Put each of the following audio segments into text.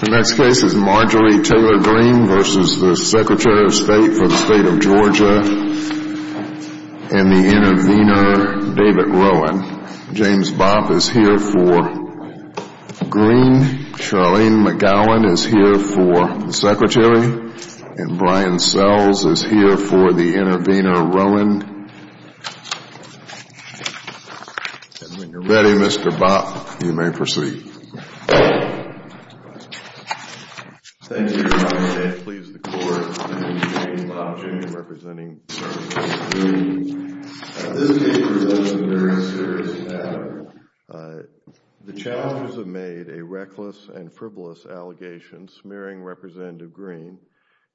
The next case is Marjorie Taylor Greene v. Secretary of State for the State of Georgia and the intervener, David Rowan. James Bopp is here for Greene, Charlene McGowan is here for the Secretary, and Brian Sells is here for the intervener, Rowan. And when you're ready, Mr. Bopp, you may proceed. Thank you, Mr. Bopp. Thank you, Mr. Bopp. Thank you, Mr. Bopp. May it please the Court, I'm James Bopp, Jr. representing Charlene McGowan. At this case, we're dealing with a very serious matter. The challenges have made a reckless and frivolous allegation smearing Representative Greene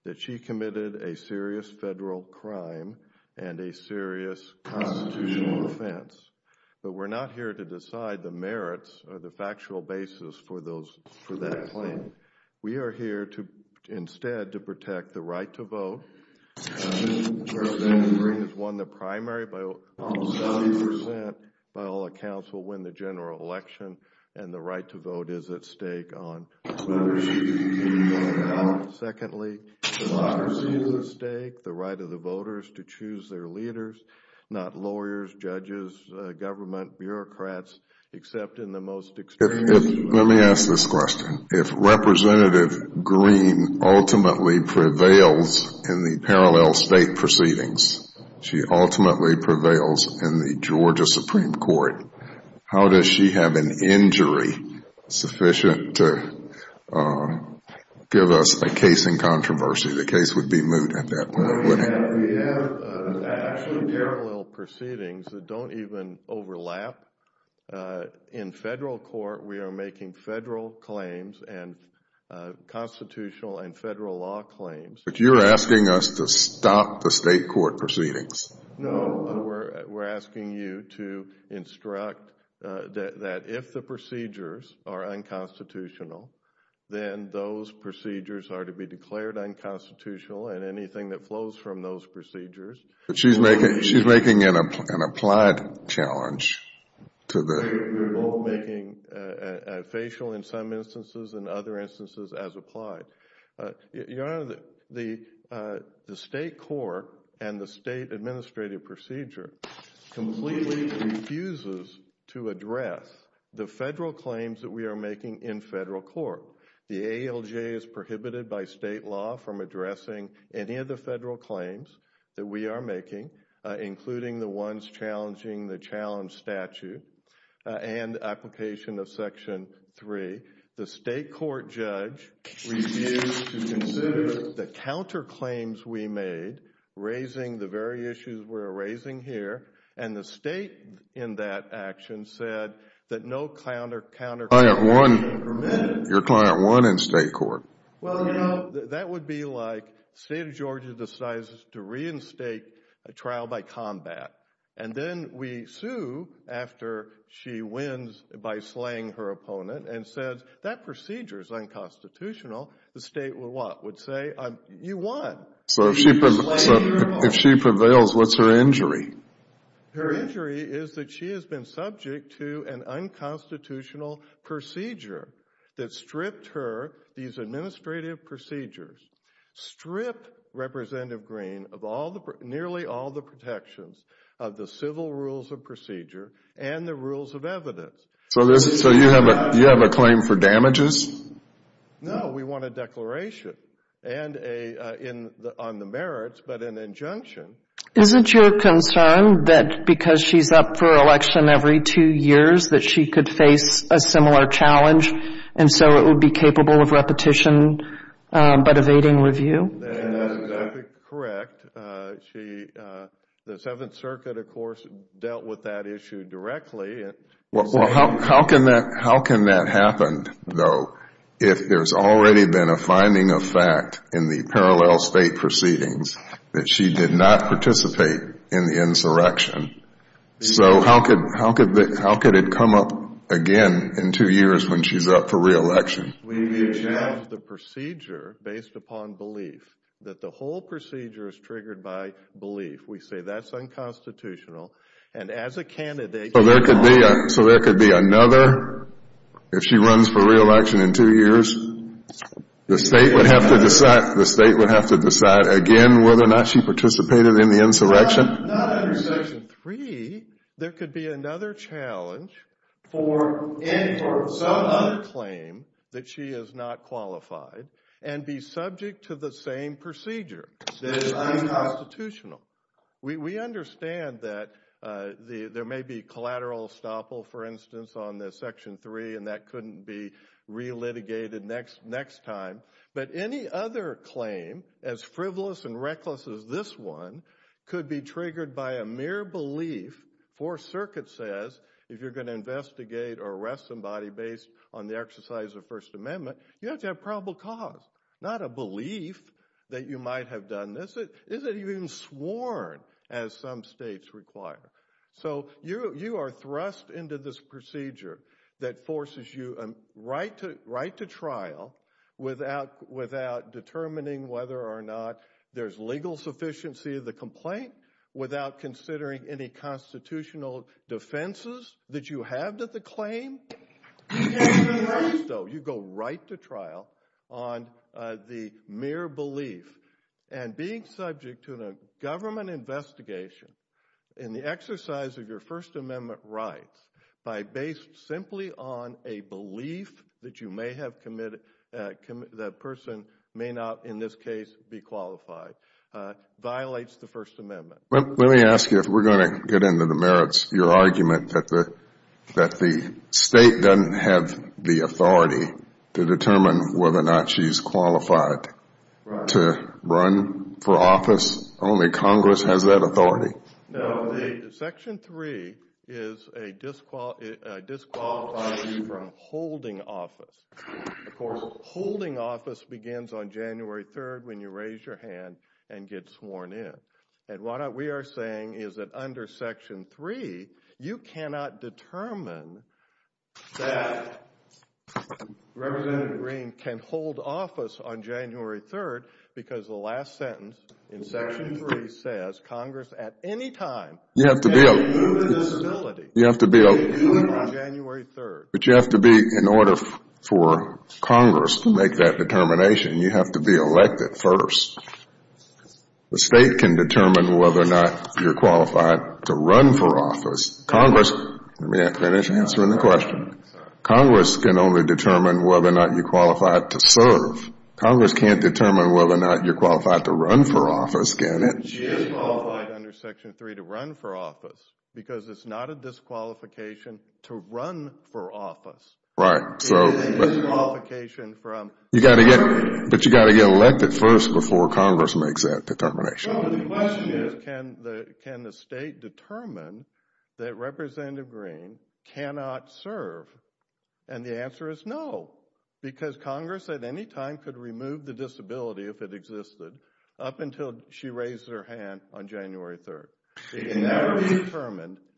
that she committed a serious federal crime and a serious constitutional offense, but we're not here to decide the merits or the factual basis for that claim. We are here instead to protect the right to vote. If Representative Greene has won the primary, by all accounts, will win the general election, and the right to vote is at stake. Secondly, democracy is at stake, the right of the voters to choose their leaders, not lawyers, judges, government, bureaucrats, except in the most experienced... Let me ask this question. If Representative Greene ultimately prevails in the parallel state proceedings, she ultimately prevails in the Georgia Supreme Court, how does she have an injury sufficient to give us a case in controversy? The case would be moved at that point, wouldn't it? We have actually parallel proceedings that don't even overlap. In federal court, we are making federal claims and constitutional and federal law claims. But you're asking us to stop the state court proceedings. No, we're asking you to instruct that if the procedures are unconstitutional, then those procedures are to be declared unconstitutional and anything that flows from those procedures... She's making an applied challenge to the... We're both making a facial in some instances and other instances as applied. Your Honor, the state court and the state administrative procedure completely refuses to address the federal claims that we are making in federal court. The ALJ is prohibited by state law from addressing any of the federal claims that we are making, including the ones challenging the challenge statute and application of Section 3. The state court judge refused to consider the counterclaims we made, raising the very issues we're raising here, and the state in that action said that no counterclaim... Your client won in state court. Well, no. That would be like the state of Georgia decides to reinstate a trial by combat, and then we sue after she wins by slaying her opponent and said, that procedure is unconstitutional. The state would say, you won. If she prevails, what's her injury? Her injury is that she has been subject to an unconstitutional procedure that stripped her these administrative procedures, stripped Representative Green of nearly all the protections of the civil rules of procedure and the rules of evidence. So you have a claim for damages? No, we want a declaration on the merits, but an injunction. Isn't your concern that because she's up for election every two years, that she could face a similar challenge, and so it would be capable of repetition but evading review? That would be correct. The Seventh Circuit, of course, dealt with that issue directly. How can that happen, though, if there's already been a finding of fact in the parallel state proceedings that she did not participate in the insurrection? So how could it come up again in two years when she's up for re-election? We judge the procedure based upon belief, that the whole procedure is triggered by belief. We say that's unconstitutional, and as a candidate... So there could be another, if she runs for re-election in two years, the state would have to decide again whether or not she participated in the insurrection? No, not under Section 3. There could be another challenge for some other claim that she is not qualified and be subject to the same procedure that is unconstitutional. We understand that there may be collateral estoppel, for instance, on Section 3, and that couldn't be re-litigated next time. But any other claim, as frivolous and reckless as this one, could be triggered by a mere belief. Fourth Circuit says if you're going to investigate or arrest somebody based on the exercise of the First Amendment, you have to have probable cause, not a belief that you might have done this. It isn't even sworn, as some states require. So you are thrust into this procedure that forces you right to trial without determining whether or not there's legal sufficiency of the complaint, without considering any constitutional defenses that you have to the claim. So you go right to trial on the mere belief, and being subject to a government investigation and the exercise of your First Amendment rights by based simply on a belief that you may have committed, that person may not, in this case, be qualified, violates the First Amendment. Let me ask you, if we're going to get into the merits, your argument that the state doesn't have the authority to determine whether or not she's qualified to run for office, only Congress has that authority? No, the Section 3 is a disqualify you from holding office. Of course, holding office begins on January 3rd when you raise your hand and get sworn in. And what we are saying is that under Section 3, you cannot determine that Congress at any time. You have to be in order for Congress to make that determination, you have to be elected first. The state can determine whether or not you're qualified to run for office. Congress can only determine whether or not you're qualified to serve. Congress can't determine whether or not you're qualified to run for office, can it? She is qualified under Section 3 to run for office because it's not a disqualification to run for office. Right. But you got to get elected first before Congress makes that determination. The question is, can the state determine that Representative Green cannot serve? And the answer is no, because Congress at any time could remove the disability if it existed up until she raised her hand on January 3rd.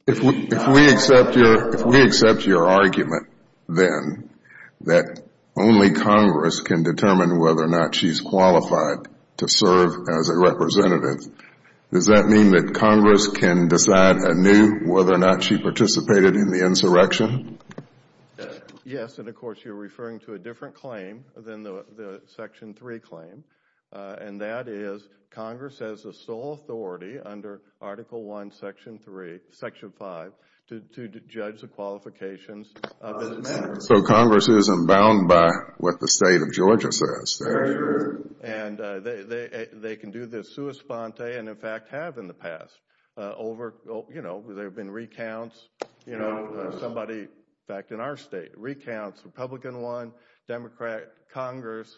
If we accept your argument then that only Congress can determine whether or not she's qualified to serve as a representative, does that mean that Yes, and of course you're referring to a different claim than the Section 3 claim, and that is Congress has the sole authority under Article 1, Section 5 to judge the qualifications. So Congress isn't bound by what the state of Georgia says. And they can do this sua sponte and in fact have in the past. There have been recounts, somebody in fact in our state recounts Republican won, Democrat, Congress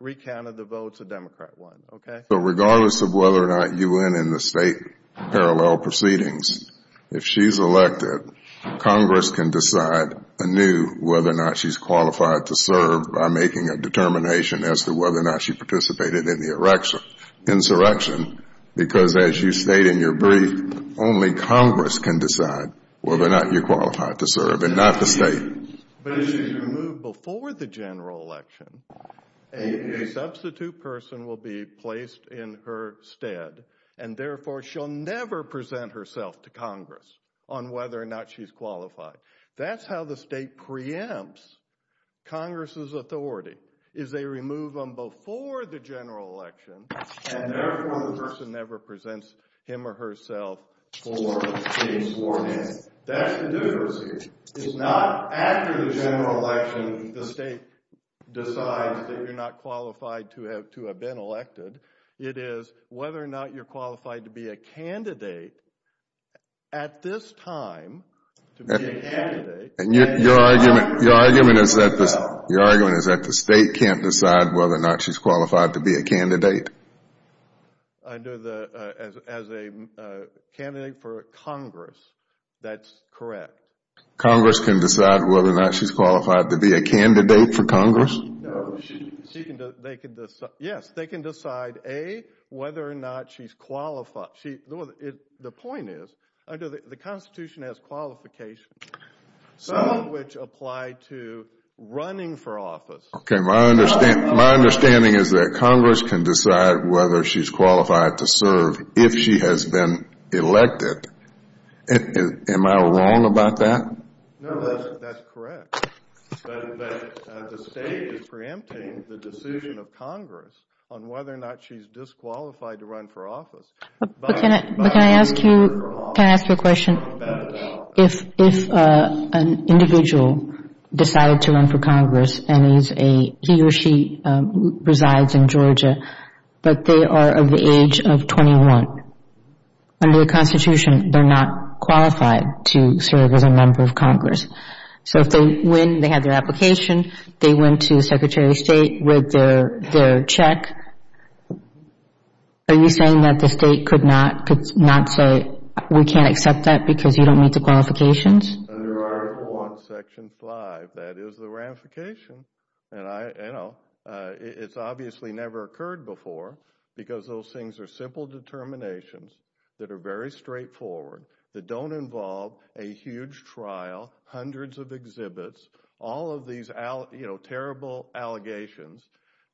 recounted the votes a Democrat won. Okay. So regardless of whether or not you win in the state parallel proceedings, if she's elected, Congress can decide anew whether or not she's qualified to serve by making a determination as to whether or not she participated in the insurrection, because as you stated in your brief, only Congress can decide whether or not you're qualified to serve and not the state. But if she's removed before the general election, a substitute person will be placed in her stead and therefore she'll never present herself to Congress on whether or not she's qualified. That's how the state preempts Congress's authority, is they remove them before the general election and therefore the person never presents him or herself for being sworn in. That's the difference. It's not after the general election the state decides that you're not qualified to have to have been elected. It is whether or not you're qualified to be a candidate at this time to be a candidate. And your argument is that the state can't decide whether or not she's a candidate? As a candidate for Congress, that's correct. Congress can decide whether or not she's qualified to be a candidate for Congress? Yes, they can decide whether or not she's qualified. The point is, the Constitution has qualifications, some of which apply to running for office. Okay, my understanding is that Congress can decide whether she's qualified to serve if she has been elected. Am I wrong about that? No, that's correct. But the state is preempting the decision of Congress on whether or not she's disqualified to run for office. But can I ask you a question? If an individual decided to run for Congress and he or she resides in Georgia, but they are of the age of 21, under the Constitution, they're not qualified to serve as a member of Congress. So if they win, they have their application, they went to the Secretary of State, read their check, are you saying that the state could not say, we can't accept that because you don't meet the qualifications? Under Article I, Section 5, that is the ramification. And I, you know, it's obviously never occurred before because those things are simple determinations that are very straightforward, that don't involve a huge trial, hundreds of exhibits, all of these, you know, terrible allegations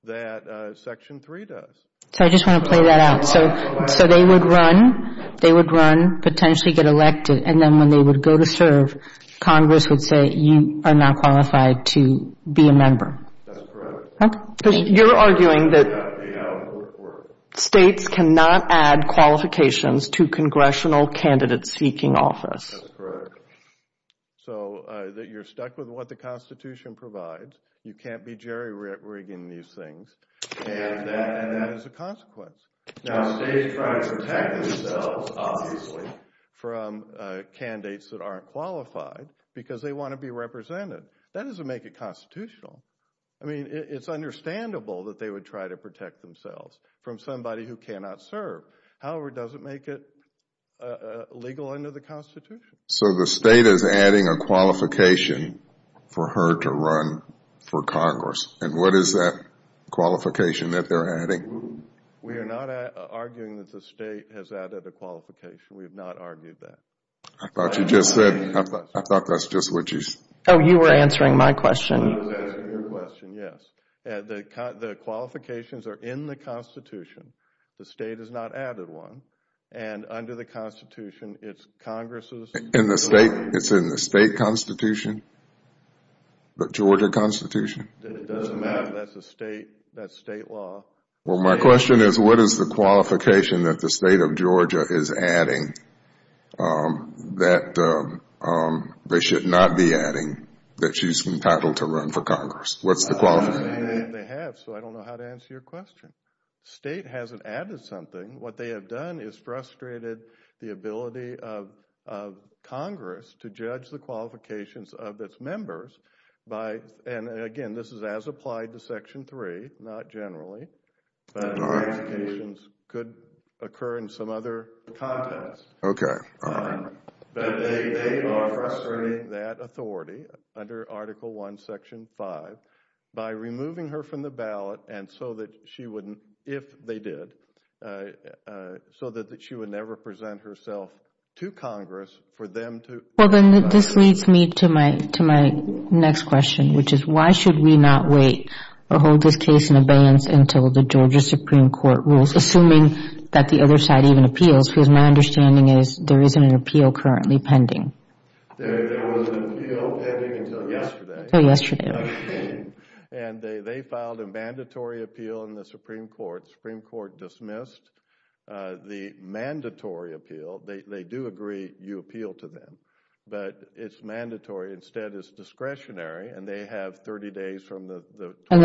that Section 3 does. So I just want to play that out. So they would run, they would run, potentially get elected, and then when they would go to serve, Congress would say, you are not qualified to be a member. That's correct. Because you're arguing that states cannot add qualifications to congressional candidate-seeking office. That's correct. So that you're stuck with what the Constitution provides, you can't be jerry-rigging these things, and that is a consequence. Now, states try to protect themselves, obviously, from candidates that aren't qualified because they want to be represented. That doesn't make it constitutional. I mean, it's understandable that they would try to protect themselves from somebody who cannot serve. However, it doesn't make it legal under the Constitution. So the state is adding a qualification that they're adding. We are not arguing that the state has added a qualification. We have not argued that. I thought you just said, I thought that's just what you said. Oh, you were answering my question. I was answering your question, yes. The qualifications are in the Constitution. The state has not added one. And under the Constitution, it's Congress's. In the state, it's in the state Constitution, the Georgia Constitution. It doesn't matter that's state law. Well, my question is, what is the qualification that the state of Georgia is adding that they should not be adding that she's entitled to run for Congress? What's the qualification? They have, so I don't know how to answer your question. The state hasn't added something. What they have done is frustrated the ability of Congress to judge the qualifications of its members by, and again, this is as applied to Section 3, not generally, but could occur in some other context. Okay. But they are frustrating that authority under Article 1, Section 5, by removing her from the ballot and so that she wouldn't, if they did, so that she would never present herself to Congress for them to. Well, then this leads me to my next question, which is why should we not wait or hold this case in abeyance until the Georgia Supreme Court rules, assuming that the other side even appeals? Because my understanding is there isn't an appeal currently pending. There was an appeal pending until yesterday. Oh, yesterday. And they filed a mandatory appeal in the Supreme Court. The Supreme Court dismissed the mandatory appeal. They do agree you appeal to them, but it's mandatory. Instead, it's discretionary, and they have 30 days from the. And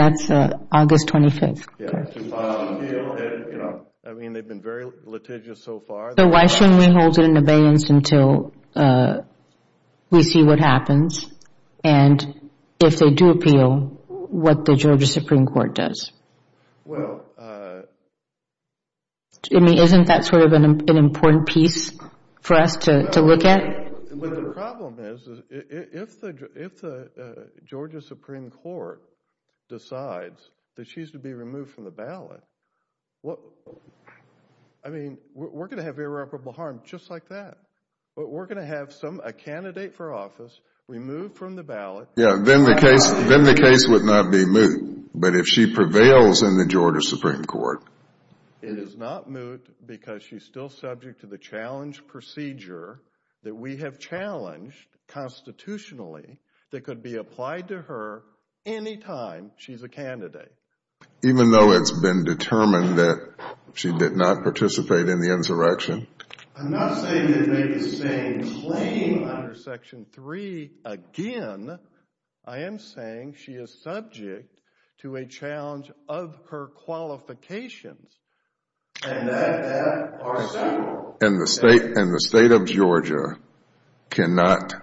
that's August 25th. I mean, they've been very litigious so far. So why shouldn't we hold it in abeyance until we see what happens? And if they do appeal, what the Georgia Supreme Court does? Well. I mean, isn't that sort of an important piece for us to look at? But the problem is, if the Georgia Supreme Court decides that she's to be removed from the ballot, I mean, we're going to have irreparable harm just like that. But we're going to have some, a candidate for office removed from the ballot. Yeah, then the case would not be moved. But if she prevails in the Georgia Supreme Court. It is not moved because she's still subject to the challenge procedure that we have challenged constitutionally that could be applied to her any time she's a candidate. Even though it's been determined that she did not participate in the insurrection. I'm not saying that they could stay in claim under Section 3 again. I am saying she is subject to a challenge of her qualifications. And that are several. And the state of Georgia cannot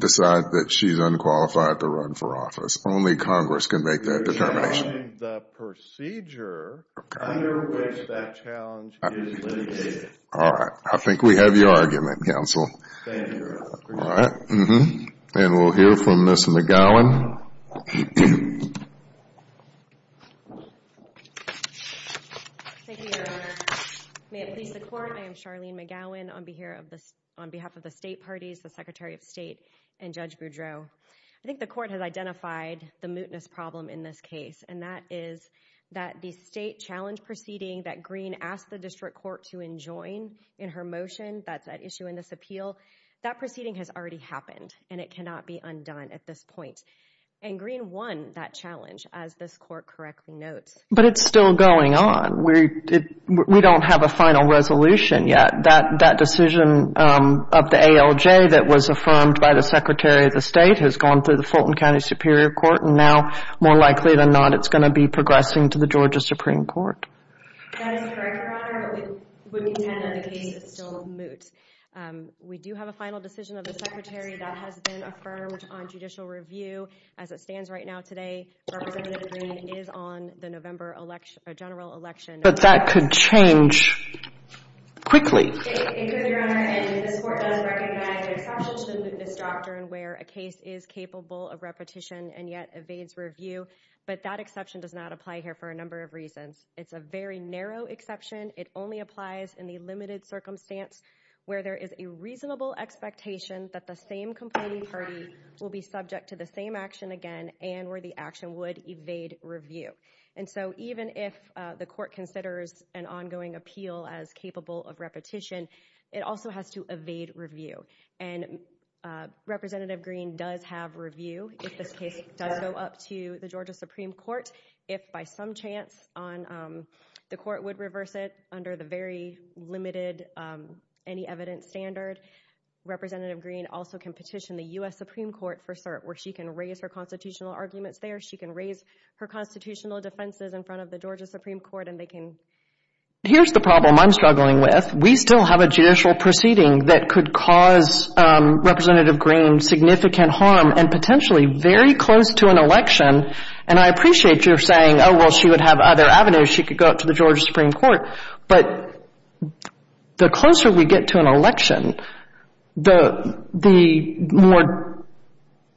decide that she's unqualified to run for office. Only Congress can make that determination. You're challenging the procedure under which that challenge is litigated. All right. I think we have your argument, counsel. Thank you, Your Honor. All right. And we'll hear from Ms. McGowan. Thank you, Your Honor. May it please the Court, I am Charlene McGowan on behalf of the state parties, the Secretary of State, and Judge Boudreaux. I think the Court has identified the mootness problem in this case. And that is that the state challenge proceeding that Green asked the District Court to enjoin in her motion that's at issue in this appeal, that proceeding has already happened. And it cannot be undone at this point. And Green won that challenge, as this Court correctly notes. But it's still going on. We don't have a final resolution yet. That decision of the ALJ that was affirmed by the Secretary of the State has gone through the Fulton County Superior Court. And now, more likely than not, it's going to be progressing to the Georgia Supreme Court. That is correct, Your Honor. But we would contend that the case is still moot. We do have a final decision of the Secretary that has been affirmed on judicial review. As it stands right now today, Representative Green is on the November general election. But that could change quickly. It could, Your Honor. And this Court does recognize an exception to the mootness doctrine, where a case is capable of repetition and yet evades review. But that exception does not apply here for a number of reasons. It's a very narrow exception. It only applies in the limited circumstance where there is a reasonable expectation that the same complaining party will be subject to the same action again and where the action would evade review. And so even if the Court considers an ongoing appeal as capable of repetition, it also has to evade review. And Representative Green does have review if this case does go up to the Georgia Supreme Court. If by some chance the Court would reverse it under the very limited, any evidence standard, Representative Green also can petition the U.S. Supreme Court for cert where she can raise her constitutional arguments there. She can raise her constitutional defenses in front of the Georgia Supreme Court and they can... Here's the problem I'm struggling with. We still have a judicial proceeding that could cause Representative Green significant harm and potentially very close to an election. And I appreciate your saying, oh, well, she would have other avenues. She could go up to the Georgia Supreme Court. But the closer we get to an election, the more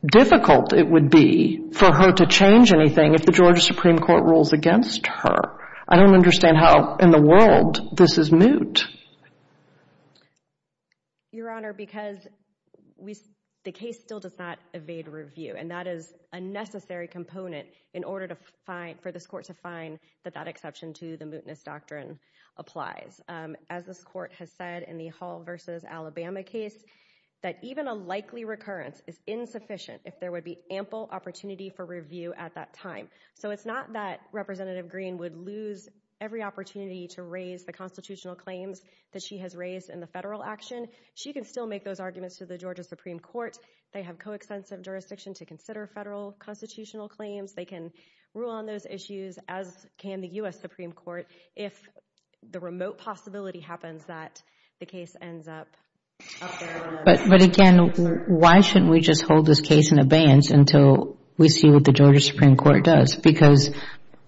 difficult it would be for her to change anything if the Georgia Supreme Court rules against her. I don't understand how in the world this is moot. Your Honor, because the case still does not evade review, and that is a necessary component in order for this Court to find that that exception to the mootness doctrine applies. As this Court has said in the Hall v. Alabama case, that even a likely recurrence is insufficient if there would be ample opportunity for review at that time. So it's not that Representative Green would lose every opportunity to raise the constitutional claims that she has raised in the federal action. She can still make those arguments to the Georgia Supreme Court. They have co-extensive jurisdiction to consider federal constitutional claims. They can rule on those issues, as can the U.S. Supreme Court, if the remote possibility happens that the case ends up up there on the list. But again, why shouldn't we just hold this case in abeyance until we see what the Georgia Supreme Court does? Because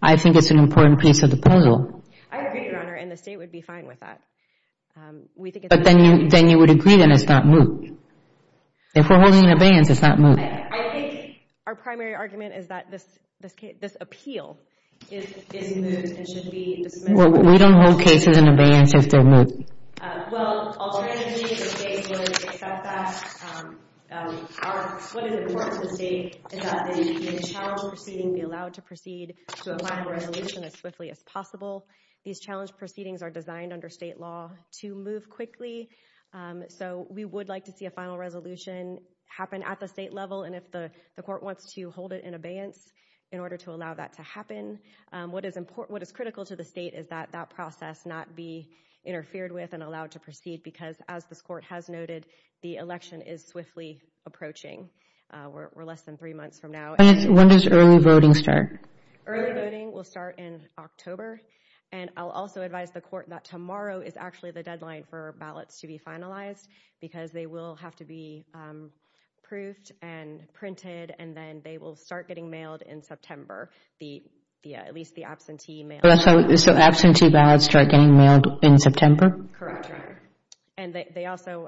I think it's an important piece of the puzzle. I agree, Your Honor, and the State would be fine with that. But then you would agree that it's not moot. If we're holding it in abeyance, it's not moot. I think our primary argument is that this appeal is moot and should be dismissed. We don't hold cases in abeyance if they're moot. Well, alternatively, the State would accept that. What is important to the State is that the challenge proceeding be allowed to proceed to a final resolution as swiftly as possible. These challenge proceedings are designed under State law to move quickly. So we would like to see a final resolution happen at the State level, and if the Court wants to hold it in abeyance in order to allow that to happen. What is critical to the State is that that process not be allowed to proceed because, as this Court has noted, the election is swiftly approaching. We're less than three months from now. When does early voting start? Early voting will start in October, and I'll also advise the Court that tomorrow is actually the deadline for ballots to be finalized because they will have to be approved and printed, and then they will start getting mailed in September, at least the absentee mail. So absentee ballots start getting mailed in September? Correct, Your Honor. And they also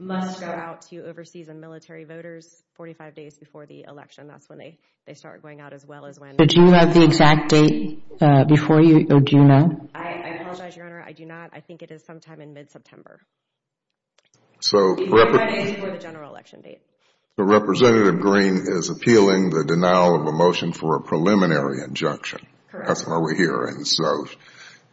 must go out to overseas and military voters 45 days before the election. That's when they start going out as well as when... Do you have the exact date before you, or do you not? I apologize, Your Honor. I do not. I think it is sometime in mid-September. So... 45 days before the general election date. So Representative Green is appealing the denial of a motion for a preliminary injunction. Correct. So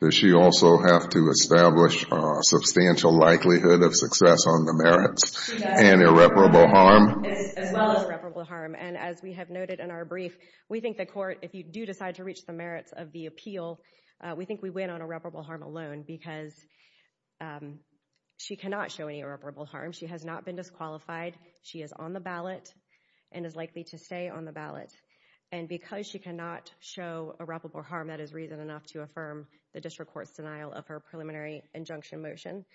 does she also have to establish a substantial likelihood of success on the merits and irreparable harm? As well as irreparable harm. And as we have noted in our brief, we think the Court, if you do decide to reach the merits of the appeal, we think we win on irreparable harm alone because she cannot show any irreparable harm. She has not been disqualified. She is on the ballot and is likely to stay on the ballot. And because she cannot show irreparable harm, that is reason enough to affirm the District Court's denial of her preliminary injunction motion.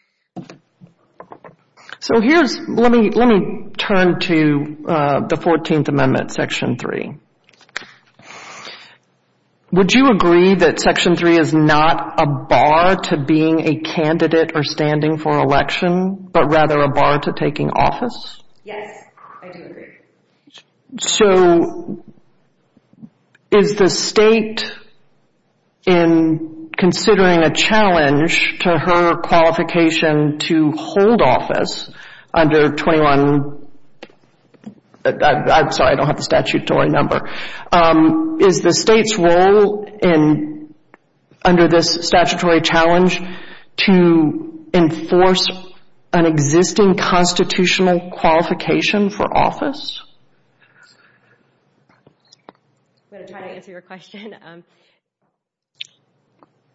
So here's... Let me turn to the 14th Amendment, Section 3. Would you agree that Section 3 is not a bar to being a candidate or standing for election, but rather a bar to taking office? Yes, I do agree. So is the State, in considering a challenge to her qualification to hold office under 21... I'm sorry, I don't have the statutory number. Is the State's role under this statutory challenge to enforce an existing constitutional qualification for office? I'm going to try to answer your question.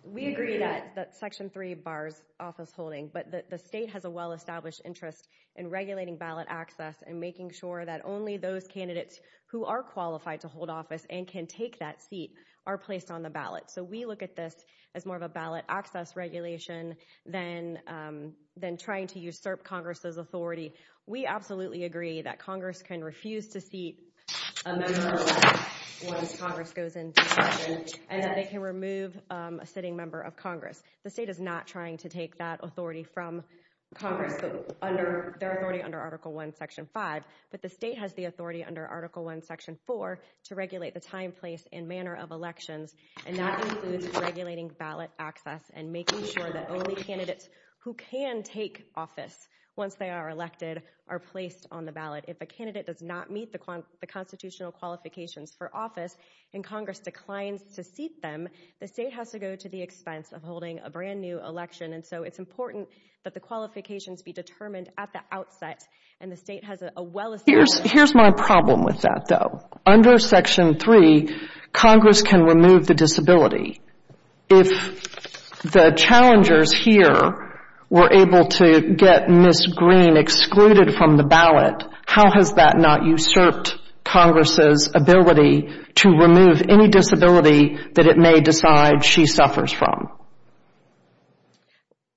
We agree that Section 3 bars office holding, but the State has a well-established interest in regulating ballot access and making sure that only those candidates who are qualified to hold office and can take that seat are placed on the ballot. So we look at this as more of a ballot access regulation than trying to usurp Congress's authority. We absolutely agree that Congress can refuse to seat a member once Congress goes into session, and that they can remove a sitting member of Congress. The State is not trying to take that authority from Congress, their authority under Article 1, Section 5. But the State has the authority under Article 1, Section 4 to regulate the time, place, and manner of elections. And that includes regulating ballot access and making sure that only candidates who can take office once they are elected are placed on the ballot. If a candidate does not meet the constitutional qualifications for office and Congress declines to seat them, the State has to go to the expense of holding a brand new election. And so it's important that the qualifications be determined at the outset, and the State has a well-established interest. Here's my problem with that, though. Under Section 3, Congress can remove the disability. If the challengers here were able to get Ms. Green excluded from the ballot, how has that not usurped Congress's ability to remove any disability that it may decide she suffers from?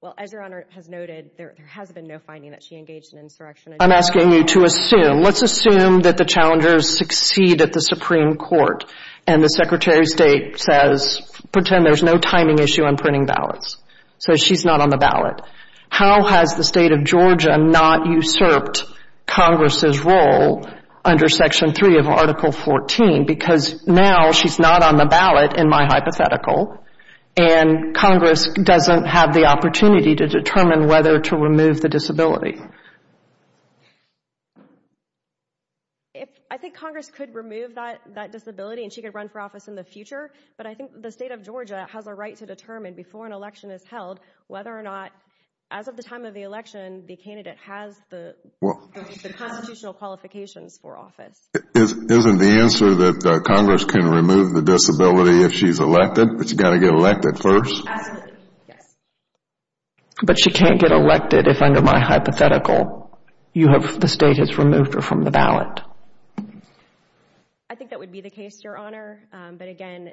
Well, as Your Honor has noted, there has been no finding that she engaged in insurrection. I'm asking you to assume. Let's assume that the challengers succeed at the Supreme Court and the Secretary of State says, pretend there's no timing issue on printing ballots. So she's not on the ballot. How has the State of Georgia not usurped Congress's role under Section 3 of Article 14? Because now she's not on the ballot, in my hypothetical, and Congress doesn't have the opportunity to determine whether to remove the disability. I think Congress could remove that disability and she could run for office in the future, but I think the State of Georgia has a right to determine before an election is held whether or not, as of the time of the election, the candidate has the constitutional qualifications for office. Isn't the answer that Congress can remove the disability if she's elected, but she's got to get elected first? Absolutely, yes. But she can't get elected if, under my hypothetical, you have, the State has removed her from the ballot. I think that would be the case, Your Honor. But again,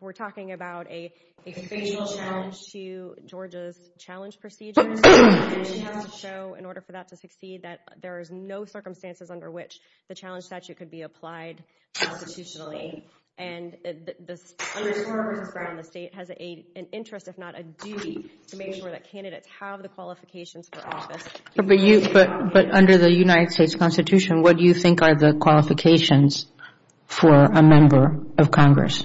we're talking about a facial challenge to Georgia's challenge procedures, and she has to show, in order for that to succeed, that there is no circumstances under which the challenge statute could be applied constitutionally. And under this Congress's ground, the State has an interest, if not a duty, to make sure that candidates have the qualifications for office. But under the United States Constitution, what do you think are the qualifications for a member of Congress?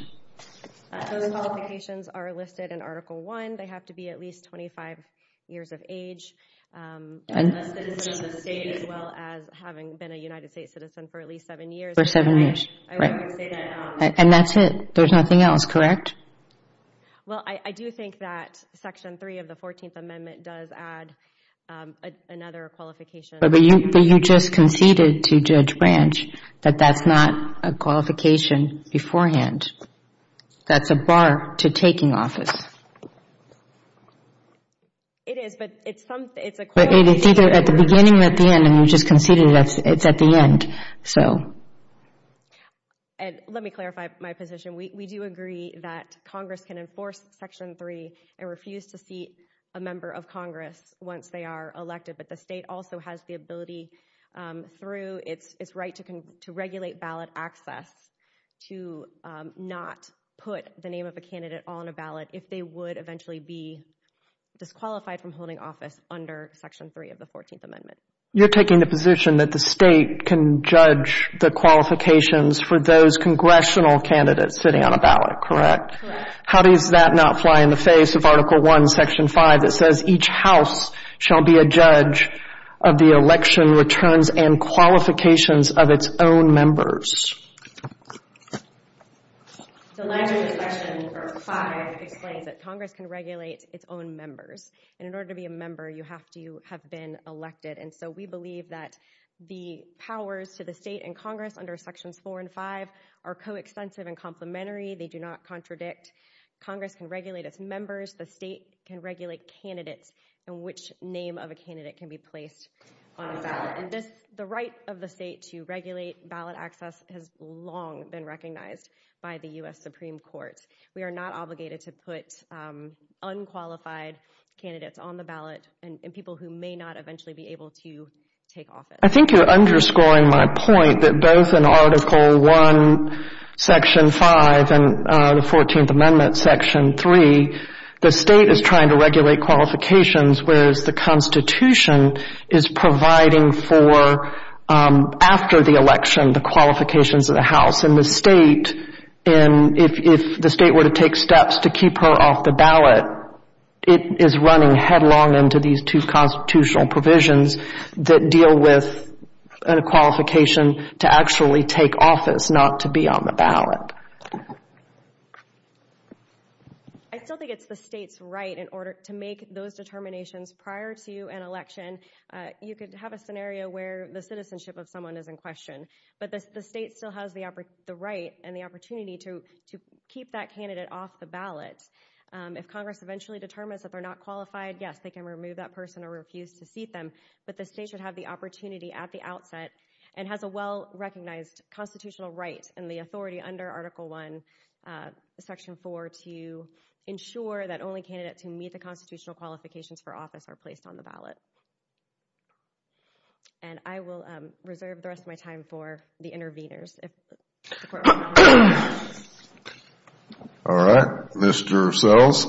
Those qualifications are listed in Article I. They have to be at least 25 years of age, a citizen of the state, as well as having been a United States citizen for at least seven years. For seven years, right. I would say that. And that's it. There's nothing else, correct? Well, I do think that Section 3 of the 14th Amendment does add another qualification. But you just conceded to Judge Branch that that's not a qualification beforehand. That's a bar to taking office. It is. But it's something, it's a qualification. But it's either at the beginning or at the end, and you just conceded it's at the end. And let me clarify my position. We do agree that Congress can enforce Section 3 and refuse to seat a member of Congress once they are elected. But the state also has the ability through its right to regulate ballot access to not put the name of a candidate on a ballot if they would eventually be disqualified from holding office under Section 3 of the 14th Amendment. You're taking the position that the state can judge the qualifications for those congressional candidates sitting on a ballot, correct? How does that not fly in the face of Article 1, Section 5, that says each house shall be a judge of the election returns and qualifications of its own members? The language of Section 5 explains that Congress can regulate its own members. And in order to be a member, you have to have been elected. And so we believe that the powers to the state and Congress under Sections 4 and 5 are coextensive and complementary. They do not contradict. Congress can regulate its members. The state can regulate candidates and which name of a candidate can be placed on a ballot. And the right of the state to regulate ballot access has long been recognized by the U.S. Supreme Court. We are not obligated to put unqualified candidates on the ballot and people who may not eventually be able to take office. I think you're underscoring my point that both in Article 1, Section 5 and the 14th Amendment, Section 3, the state is trying to regulate qualifications, whereas the Constitution is providing for, after the election, the qualifications of the House. And the state, if the state were to take steps to keep her off the ballot, it is running headlong into these two constitutional provisions that deal with a qualification to actually take office, not to be on the ballot. So I still think it's the state's right in order to make those determinations prior to an election. You could have a scenario where the citizenship of someone is in question, but the state still has the right and the opportunity to keep that candidate off the ballot. If Congress eventually determines that they're not qualified, yes, they can remove that person or refuse to seat them, but the state should have the opportunity at the outset and has a well-recognized constitutional right and the authority under Article 1, Section 4 to ensure that only candidates who meet the constitutional qualifications for office are placed on the ballot. And I will reserve the rest of my time for the intervenors. All right. Mr. Sells?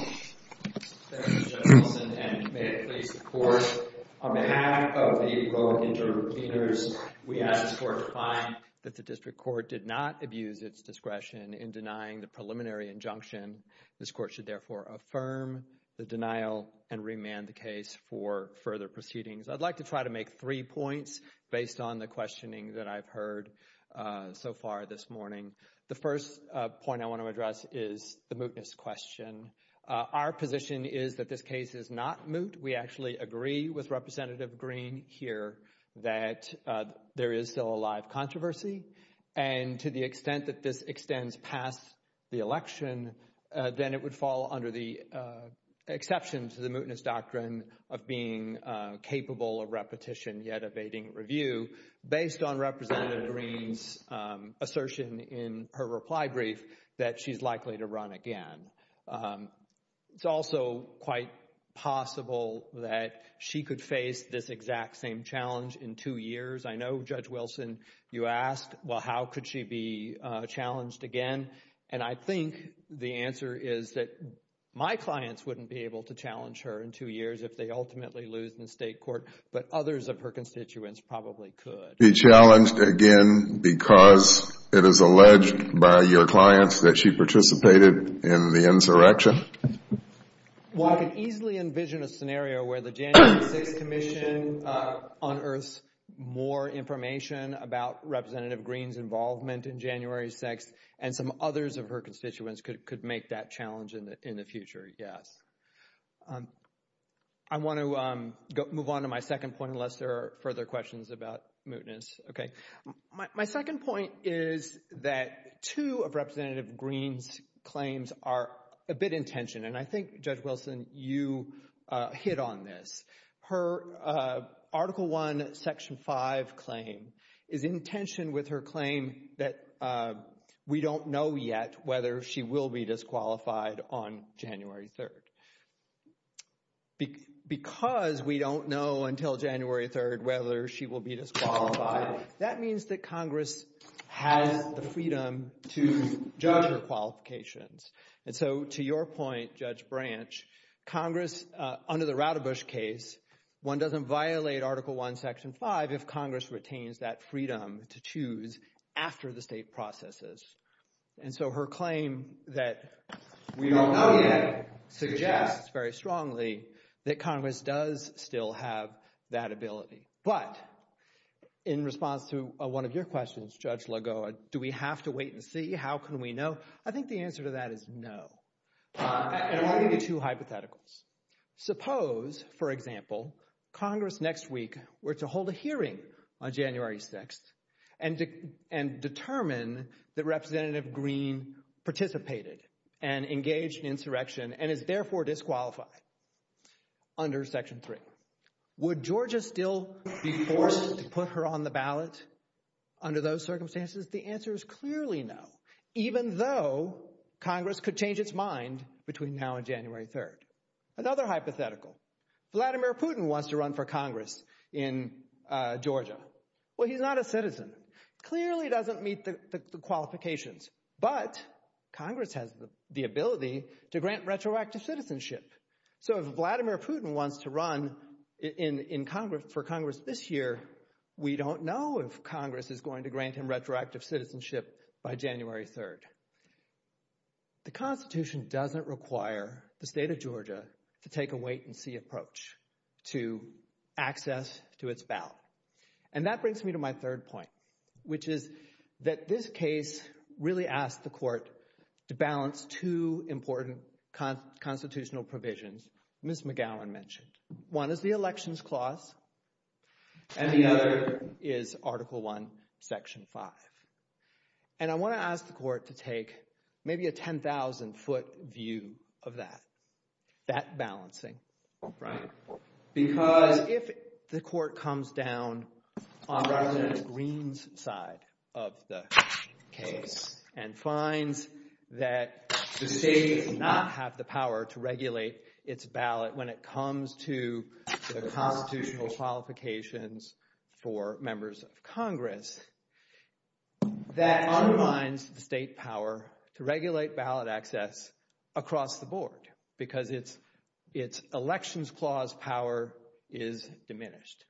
Thank you, Judge Wilson, and may it please the Court. On behalf of the both intervenors, we ask the Court to find that the District Court did not abuse its discretion in denying the preliminary injunction. This Court should therefore affirm the denial and remand the case for further proceedings. I'd like to try to make three points based on the questioning that I've heard so far this morning. The first point I want to address is the mootness question. Our position is that this case is not moot. We actually agree with Representative Green here that there is still a live controversy, and to the extent that this extends past the election, then it would fall under the exception to the mootness doctrine of being capable of repetition, yet evading review, based on Representative Green's assertion in her reply brief that she's likely to run again. It's also quite possible that she could face this exact same challenge in two years. I know, Judge Wilson, you asked, well, how could she be challenged again? And I think the answer is that my clients wouldn't be able to challenge her in two years if they ultimately lose in the State Court, but others of her constituents probably could. Be challenged again because it is alleged by your clients that she participated in the insurrection? Well, I can easily envision a scenario where the January 6th Commission unearths more information about Representative Green's involvement in January 6th and some others of her constituents could make that challenge in the future, yes. I want to move on to my second point, unless there are further questions about mootness. My second point is that two of Representative Green's claims are a bit in tension, and I think, Judge Wilson, you hit on this. Her Article I, Section 5 claim is in tension with her claim that we don't know yet whether she will be disqualified on January 3rd. Because we don't know until January 3rd whether she will be disqualified, that means that Congress has the freedom to judge her qualifications. So, to your point, Judge Branch, Congress, under the Radebush case, one doesn't violate Article I, Section 5 if Congress retains that freedom to choose after the state processes. So, her claim that we don't know yet suggests very strongly that Congress does still have that ability. But in response to one of your questions, Judge Lagoa, do we have to wait and see? How can we know? I think the answer to that is no. And I'll give you two hypotheticals. Suppose, for example, Congress next week were to hold a hearing on January 6th and determine that Representative Green participated and engaged in insurrection and is therefore disqualified under Section 3. Would Georgia still be forced to put her on the ballot under those circumstances? The answer is clearly no, even though Congress could change its mind between now and January 3rd. Another hypothetical. Vladimir Putin wants to run for Congress in Georgia. Well, he's not a citizen. Clearly doesn't meet the qualifications. But Congress has the ability to grant retroactive citizenship. So, if Vladimir Putin wants to run for Congress this year, we don't know if Congress is going to grant him a seat on January 3rd. The Constitution doesn't require the state of Georgia to take a wait-and-see approach to access to its ballot. And that brings me to my third point, which is that this case really asked the court to balance two important constitutional provisions Ms. McGowan mentioned. One is the Elections Clause and the other is Article I, Section 5. And I want to ask the court to take maybe a 10,000-foot view of that, that balancing, right? Because if the court comes down on Rep. Greene's side of the case and finds that the state does not have the power to regulate its ballot when it comes to the constitutional qualifications for members of Congress, that undermines the state power to regulate ballot access across the board because its Elections Clause power is diminished.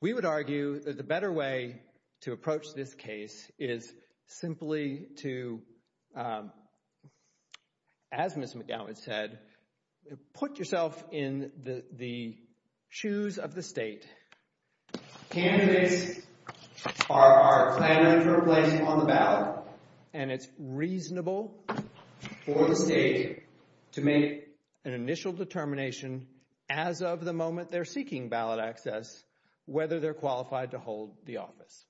We would argue that the better way to approach this case is simply to, as Ms. McGowan said, put yourself in the shoes of the state. Candidates are planning for a place on the ballot and it's reasonable for the state to make an initial determination as of the moment they're seeking ballot access whether they're qualified to hold the office.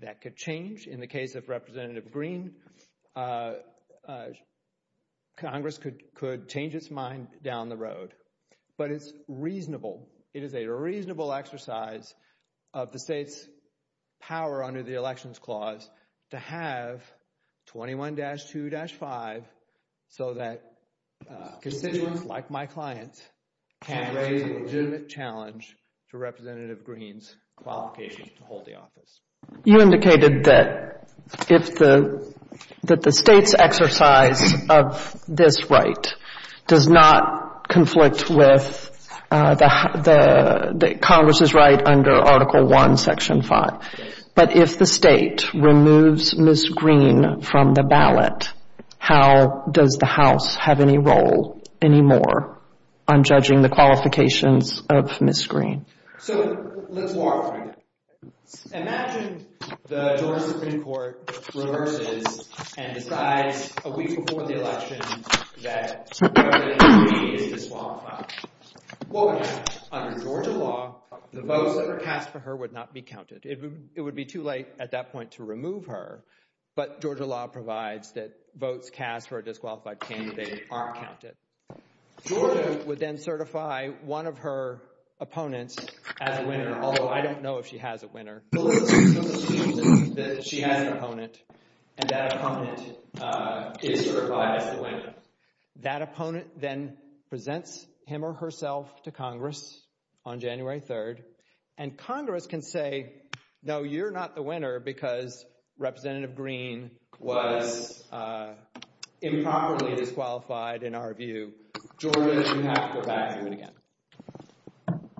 That could change in the case of Rep. Greene. Congress could change its mind down the road, but it's reasonable. It is a reasonable exercise of the state's power under the Elections Clause to have 21-2-5 so that constituents like my clients can raise a legitimate challenge to Rep. Greene's qualifications to hold the office. You indicated that the state's exercise of this right does not conflict with Congress's right under Article I, Section 5. But if the state removes Ms. Greene from the ballot, how does the House have any role anymore on judging the qualifications of Ms. Greene? So let's walk through it. Imagine the Georgia Supreme Court reverses and decides a week before the election that Rep. Greene is disqualified. What would happen? Under Georgia law, the votes that were cast for her would not be counted. It would be too late at that point to remove her, but Georgia law provides that votes cast for a disqualified candidate aren't counted. Georgia would then certify one of her opponents as a winner, although I don't know if she has a winner. So let's assume that she has an opponent and that opponent is certified as the winner. That opponent then presents him or herself to Congress on January 3rd, and Congress can say, no, you're not the winner because Rep. Greene was improperly disqualified, in our view. Georgia, you have to go back and do it again.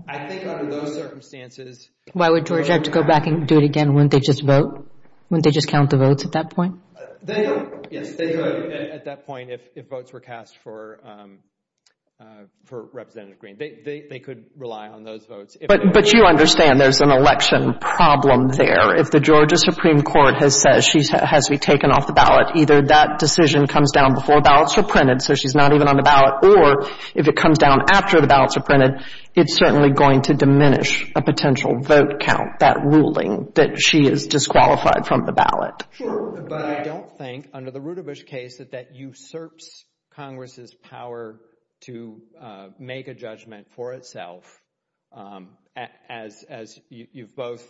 I think under those circumstances— Why would Georgia have to go back and do it again when they just vote? They don't. Yes, they could at that point if votes were cast for Rep. Greene. They could rely on those votes. But you understand there's an election problem there. If the Georgia Supreme Court has said she has to be taken off the ballot, either that decision comes down before ballots are printed, so she's not even on the ballot, or if it comes down after the ballots are printed, it's certainly going to diminish a potential vote count, that ruling that she is disqualified from the ballot. But I don't think, under the Rutabish case, that that usurps Congress's power to make a judgment for itself. As you've both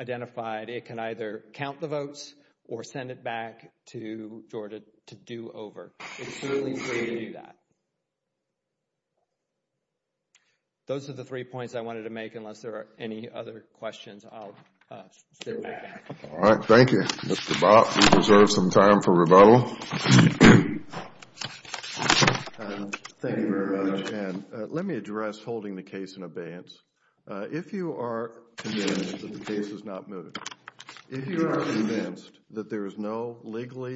identified, it can either count the votes or send it back to Georgia to do over. It's certainly free to do that. Those are the three points I wanted to make, unless there are any other questions, I'll sit back. All right, thank you. Mr. Bott, you deserve some time for rebuttal. Thank you very much. And let me address holding the case in abeyance. If you are convinced that the case is not mooted, if you are convinced that there is no legal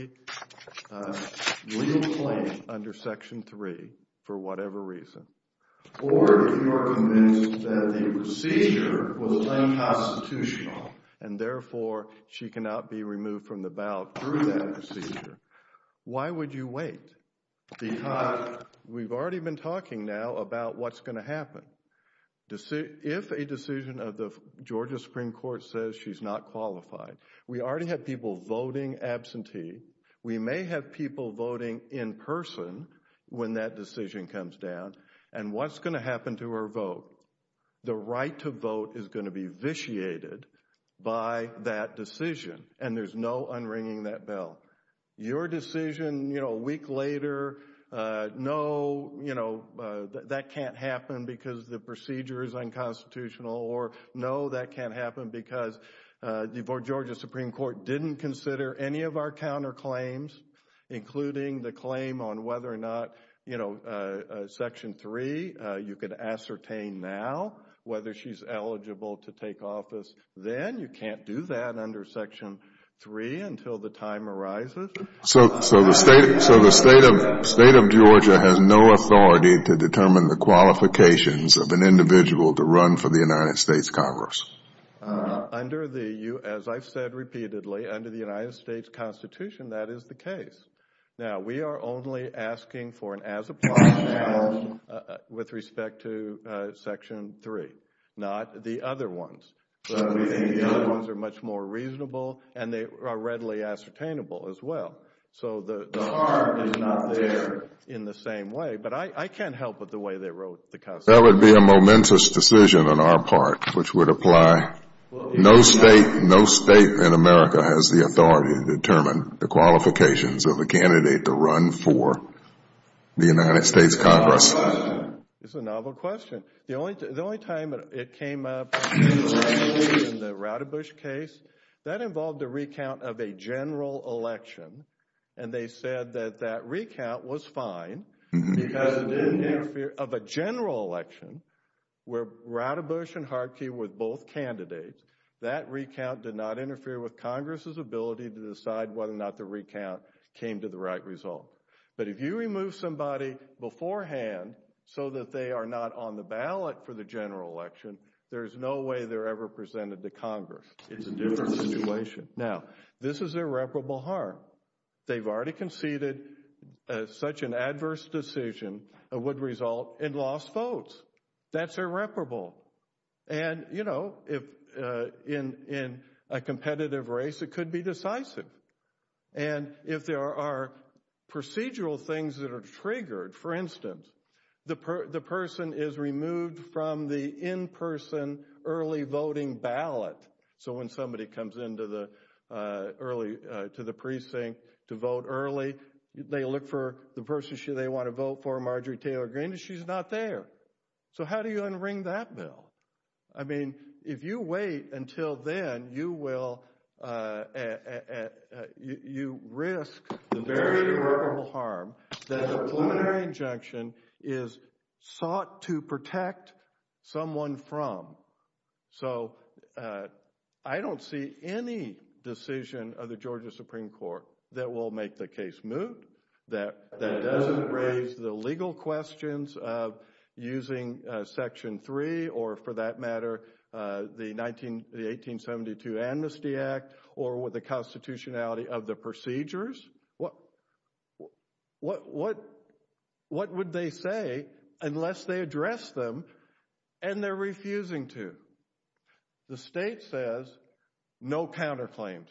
claim under Section 3 for whatever reason, or if you are convinced that the procedure was unconstitutional and therefore she cannot be removed from the ballot through that procedure, why would you wait? Because we've already been talking now about what's going to happen. If a decision of the Georgia Supreme Court says she's not qualified, we already have people voting absentee. We may have people voting in person when that decision comes down. And what's going to happen to her vote? The right to vote is going to be vitiated by that decision. And there's no unringing that bell. Your decision, you know, a week later, no, you know, that can't happen because the procedure is unconstitutional or no, that can't happen because the Georgia Supreme Court didn't consider any of our counterclaims, including the claim on whether or not, you know, Section 3, you could ascertain now whether she's eligible to take office. Then you can't do that under Section 3 until the time arises. So the state of Georgia has no authority to determine the qualifications of an individual to run for the United States Congress? Under the, as I've said repeatedly, under the United States Constitution, that is the case. Now, we are only asking for an as-applied chance with respect to Section 3, not the other ones. The other ones are much more reasonable and they are readily ascertainable as well. So the heart is not there in the same way, but I can't help with the way they wrote the Constitution. That would be a momentous decision on our part, which would apply. No state, no state in America has the authority to determine the qualifications of a candidate to run for the United States Congress. It's a novel question. The only time it came up in the Radebush case, that involved a recount of a general election. And they said that that recount was fine because it didn't interfere of a general election where Radebush and Harkey were both candidates. That recount did not interfere with Congress's ability to decide whether or not the recount came to the right result. But if you remove somebody beforehand so that they are not on the ballot for the general election, there's no way they're ever presented to Congress. It's a different situation. Now, this is irreparable harm. They've already conceded such an adverse decision would result in lost votes. That's irreparable. And, you know, if in a competitive race, it could be decisive. And if there are procedural things that are triggered, for instance, the person is removed from the in-person early voting ballot. So when somebody comes into the precinct to vote early, they look for the person they want to vote for, Marjorie Taylor Greene, and she's not there. So how do you unring that bill? I mean, if you wait until then, you risk the very irreparable harm that a preliminary injunction is sought to protect someone from. So I don't see any decision of the Georgia Supreme Court that will make the case move, that doesn't raise the legal questions of using Section 3, or for that matter, the 1872 Amnesty Act, or with the constitutionality of the procedures. What would they say unless they address them and they're refusing to? The state says no counterclaims.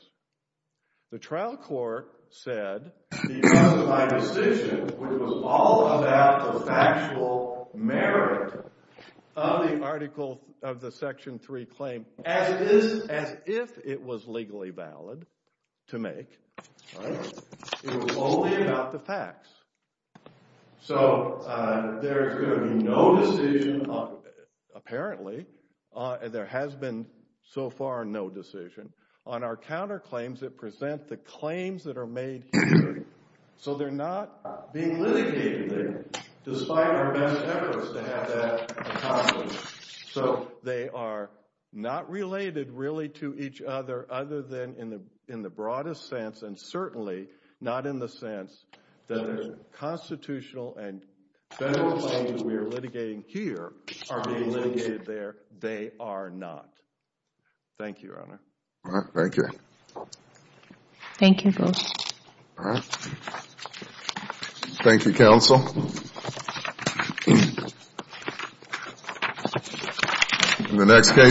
The trial court said, because of my decision, which was all about the factual merit of the article of the Section 3 claim, as if it was legally valid to make, it was only about the facts. So there's going to be no decision, apparently, there has been so far no decision on our counterclaims that present the claims that are made here. So they're not being litigated there, despite our best efforts to have that accomplished. So they are not related, really, to each other other than in the broadest sense, and certainly not in the sense that the constitutional and federal claims that we are litigating here are being litigated there. They are not. Thank you, Your Honor. Thank you. Thank you, Judge. Thank you, counsel. In the next case.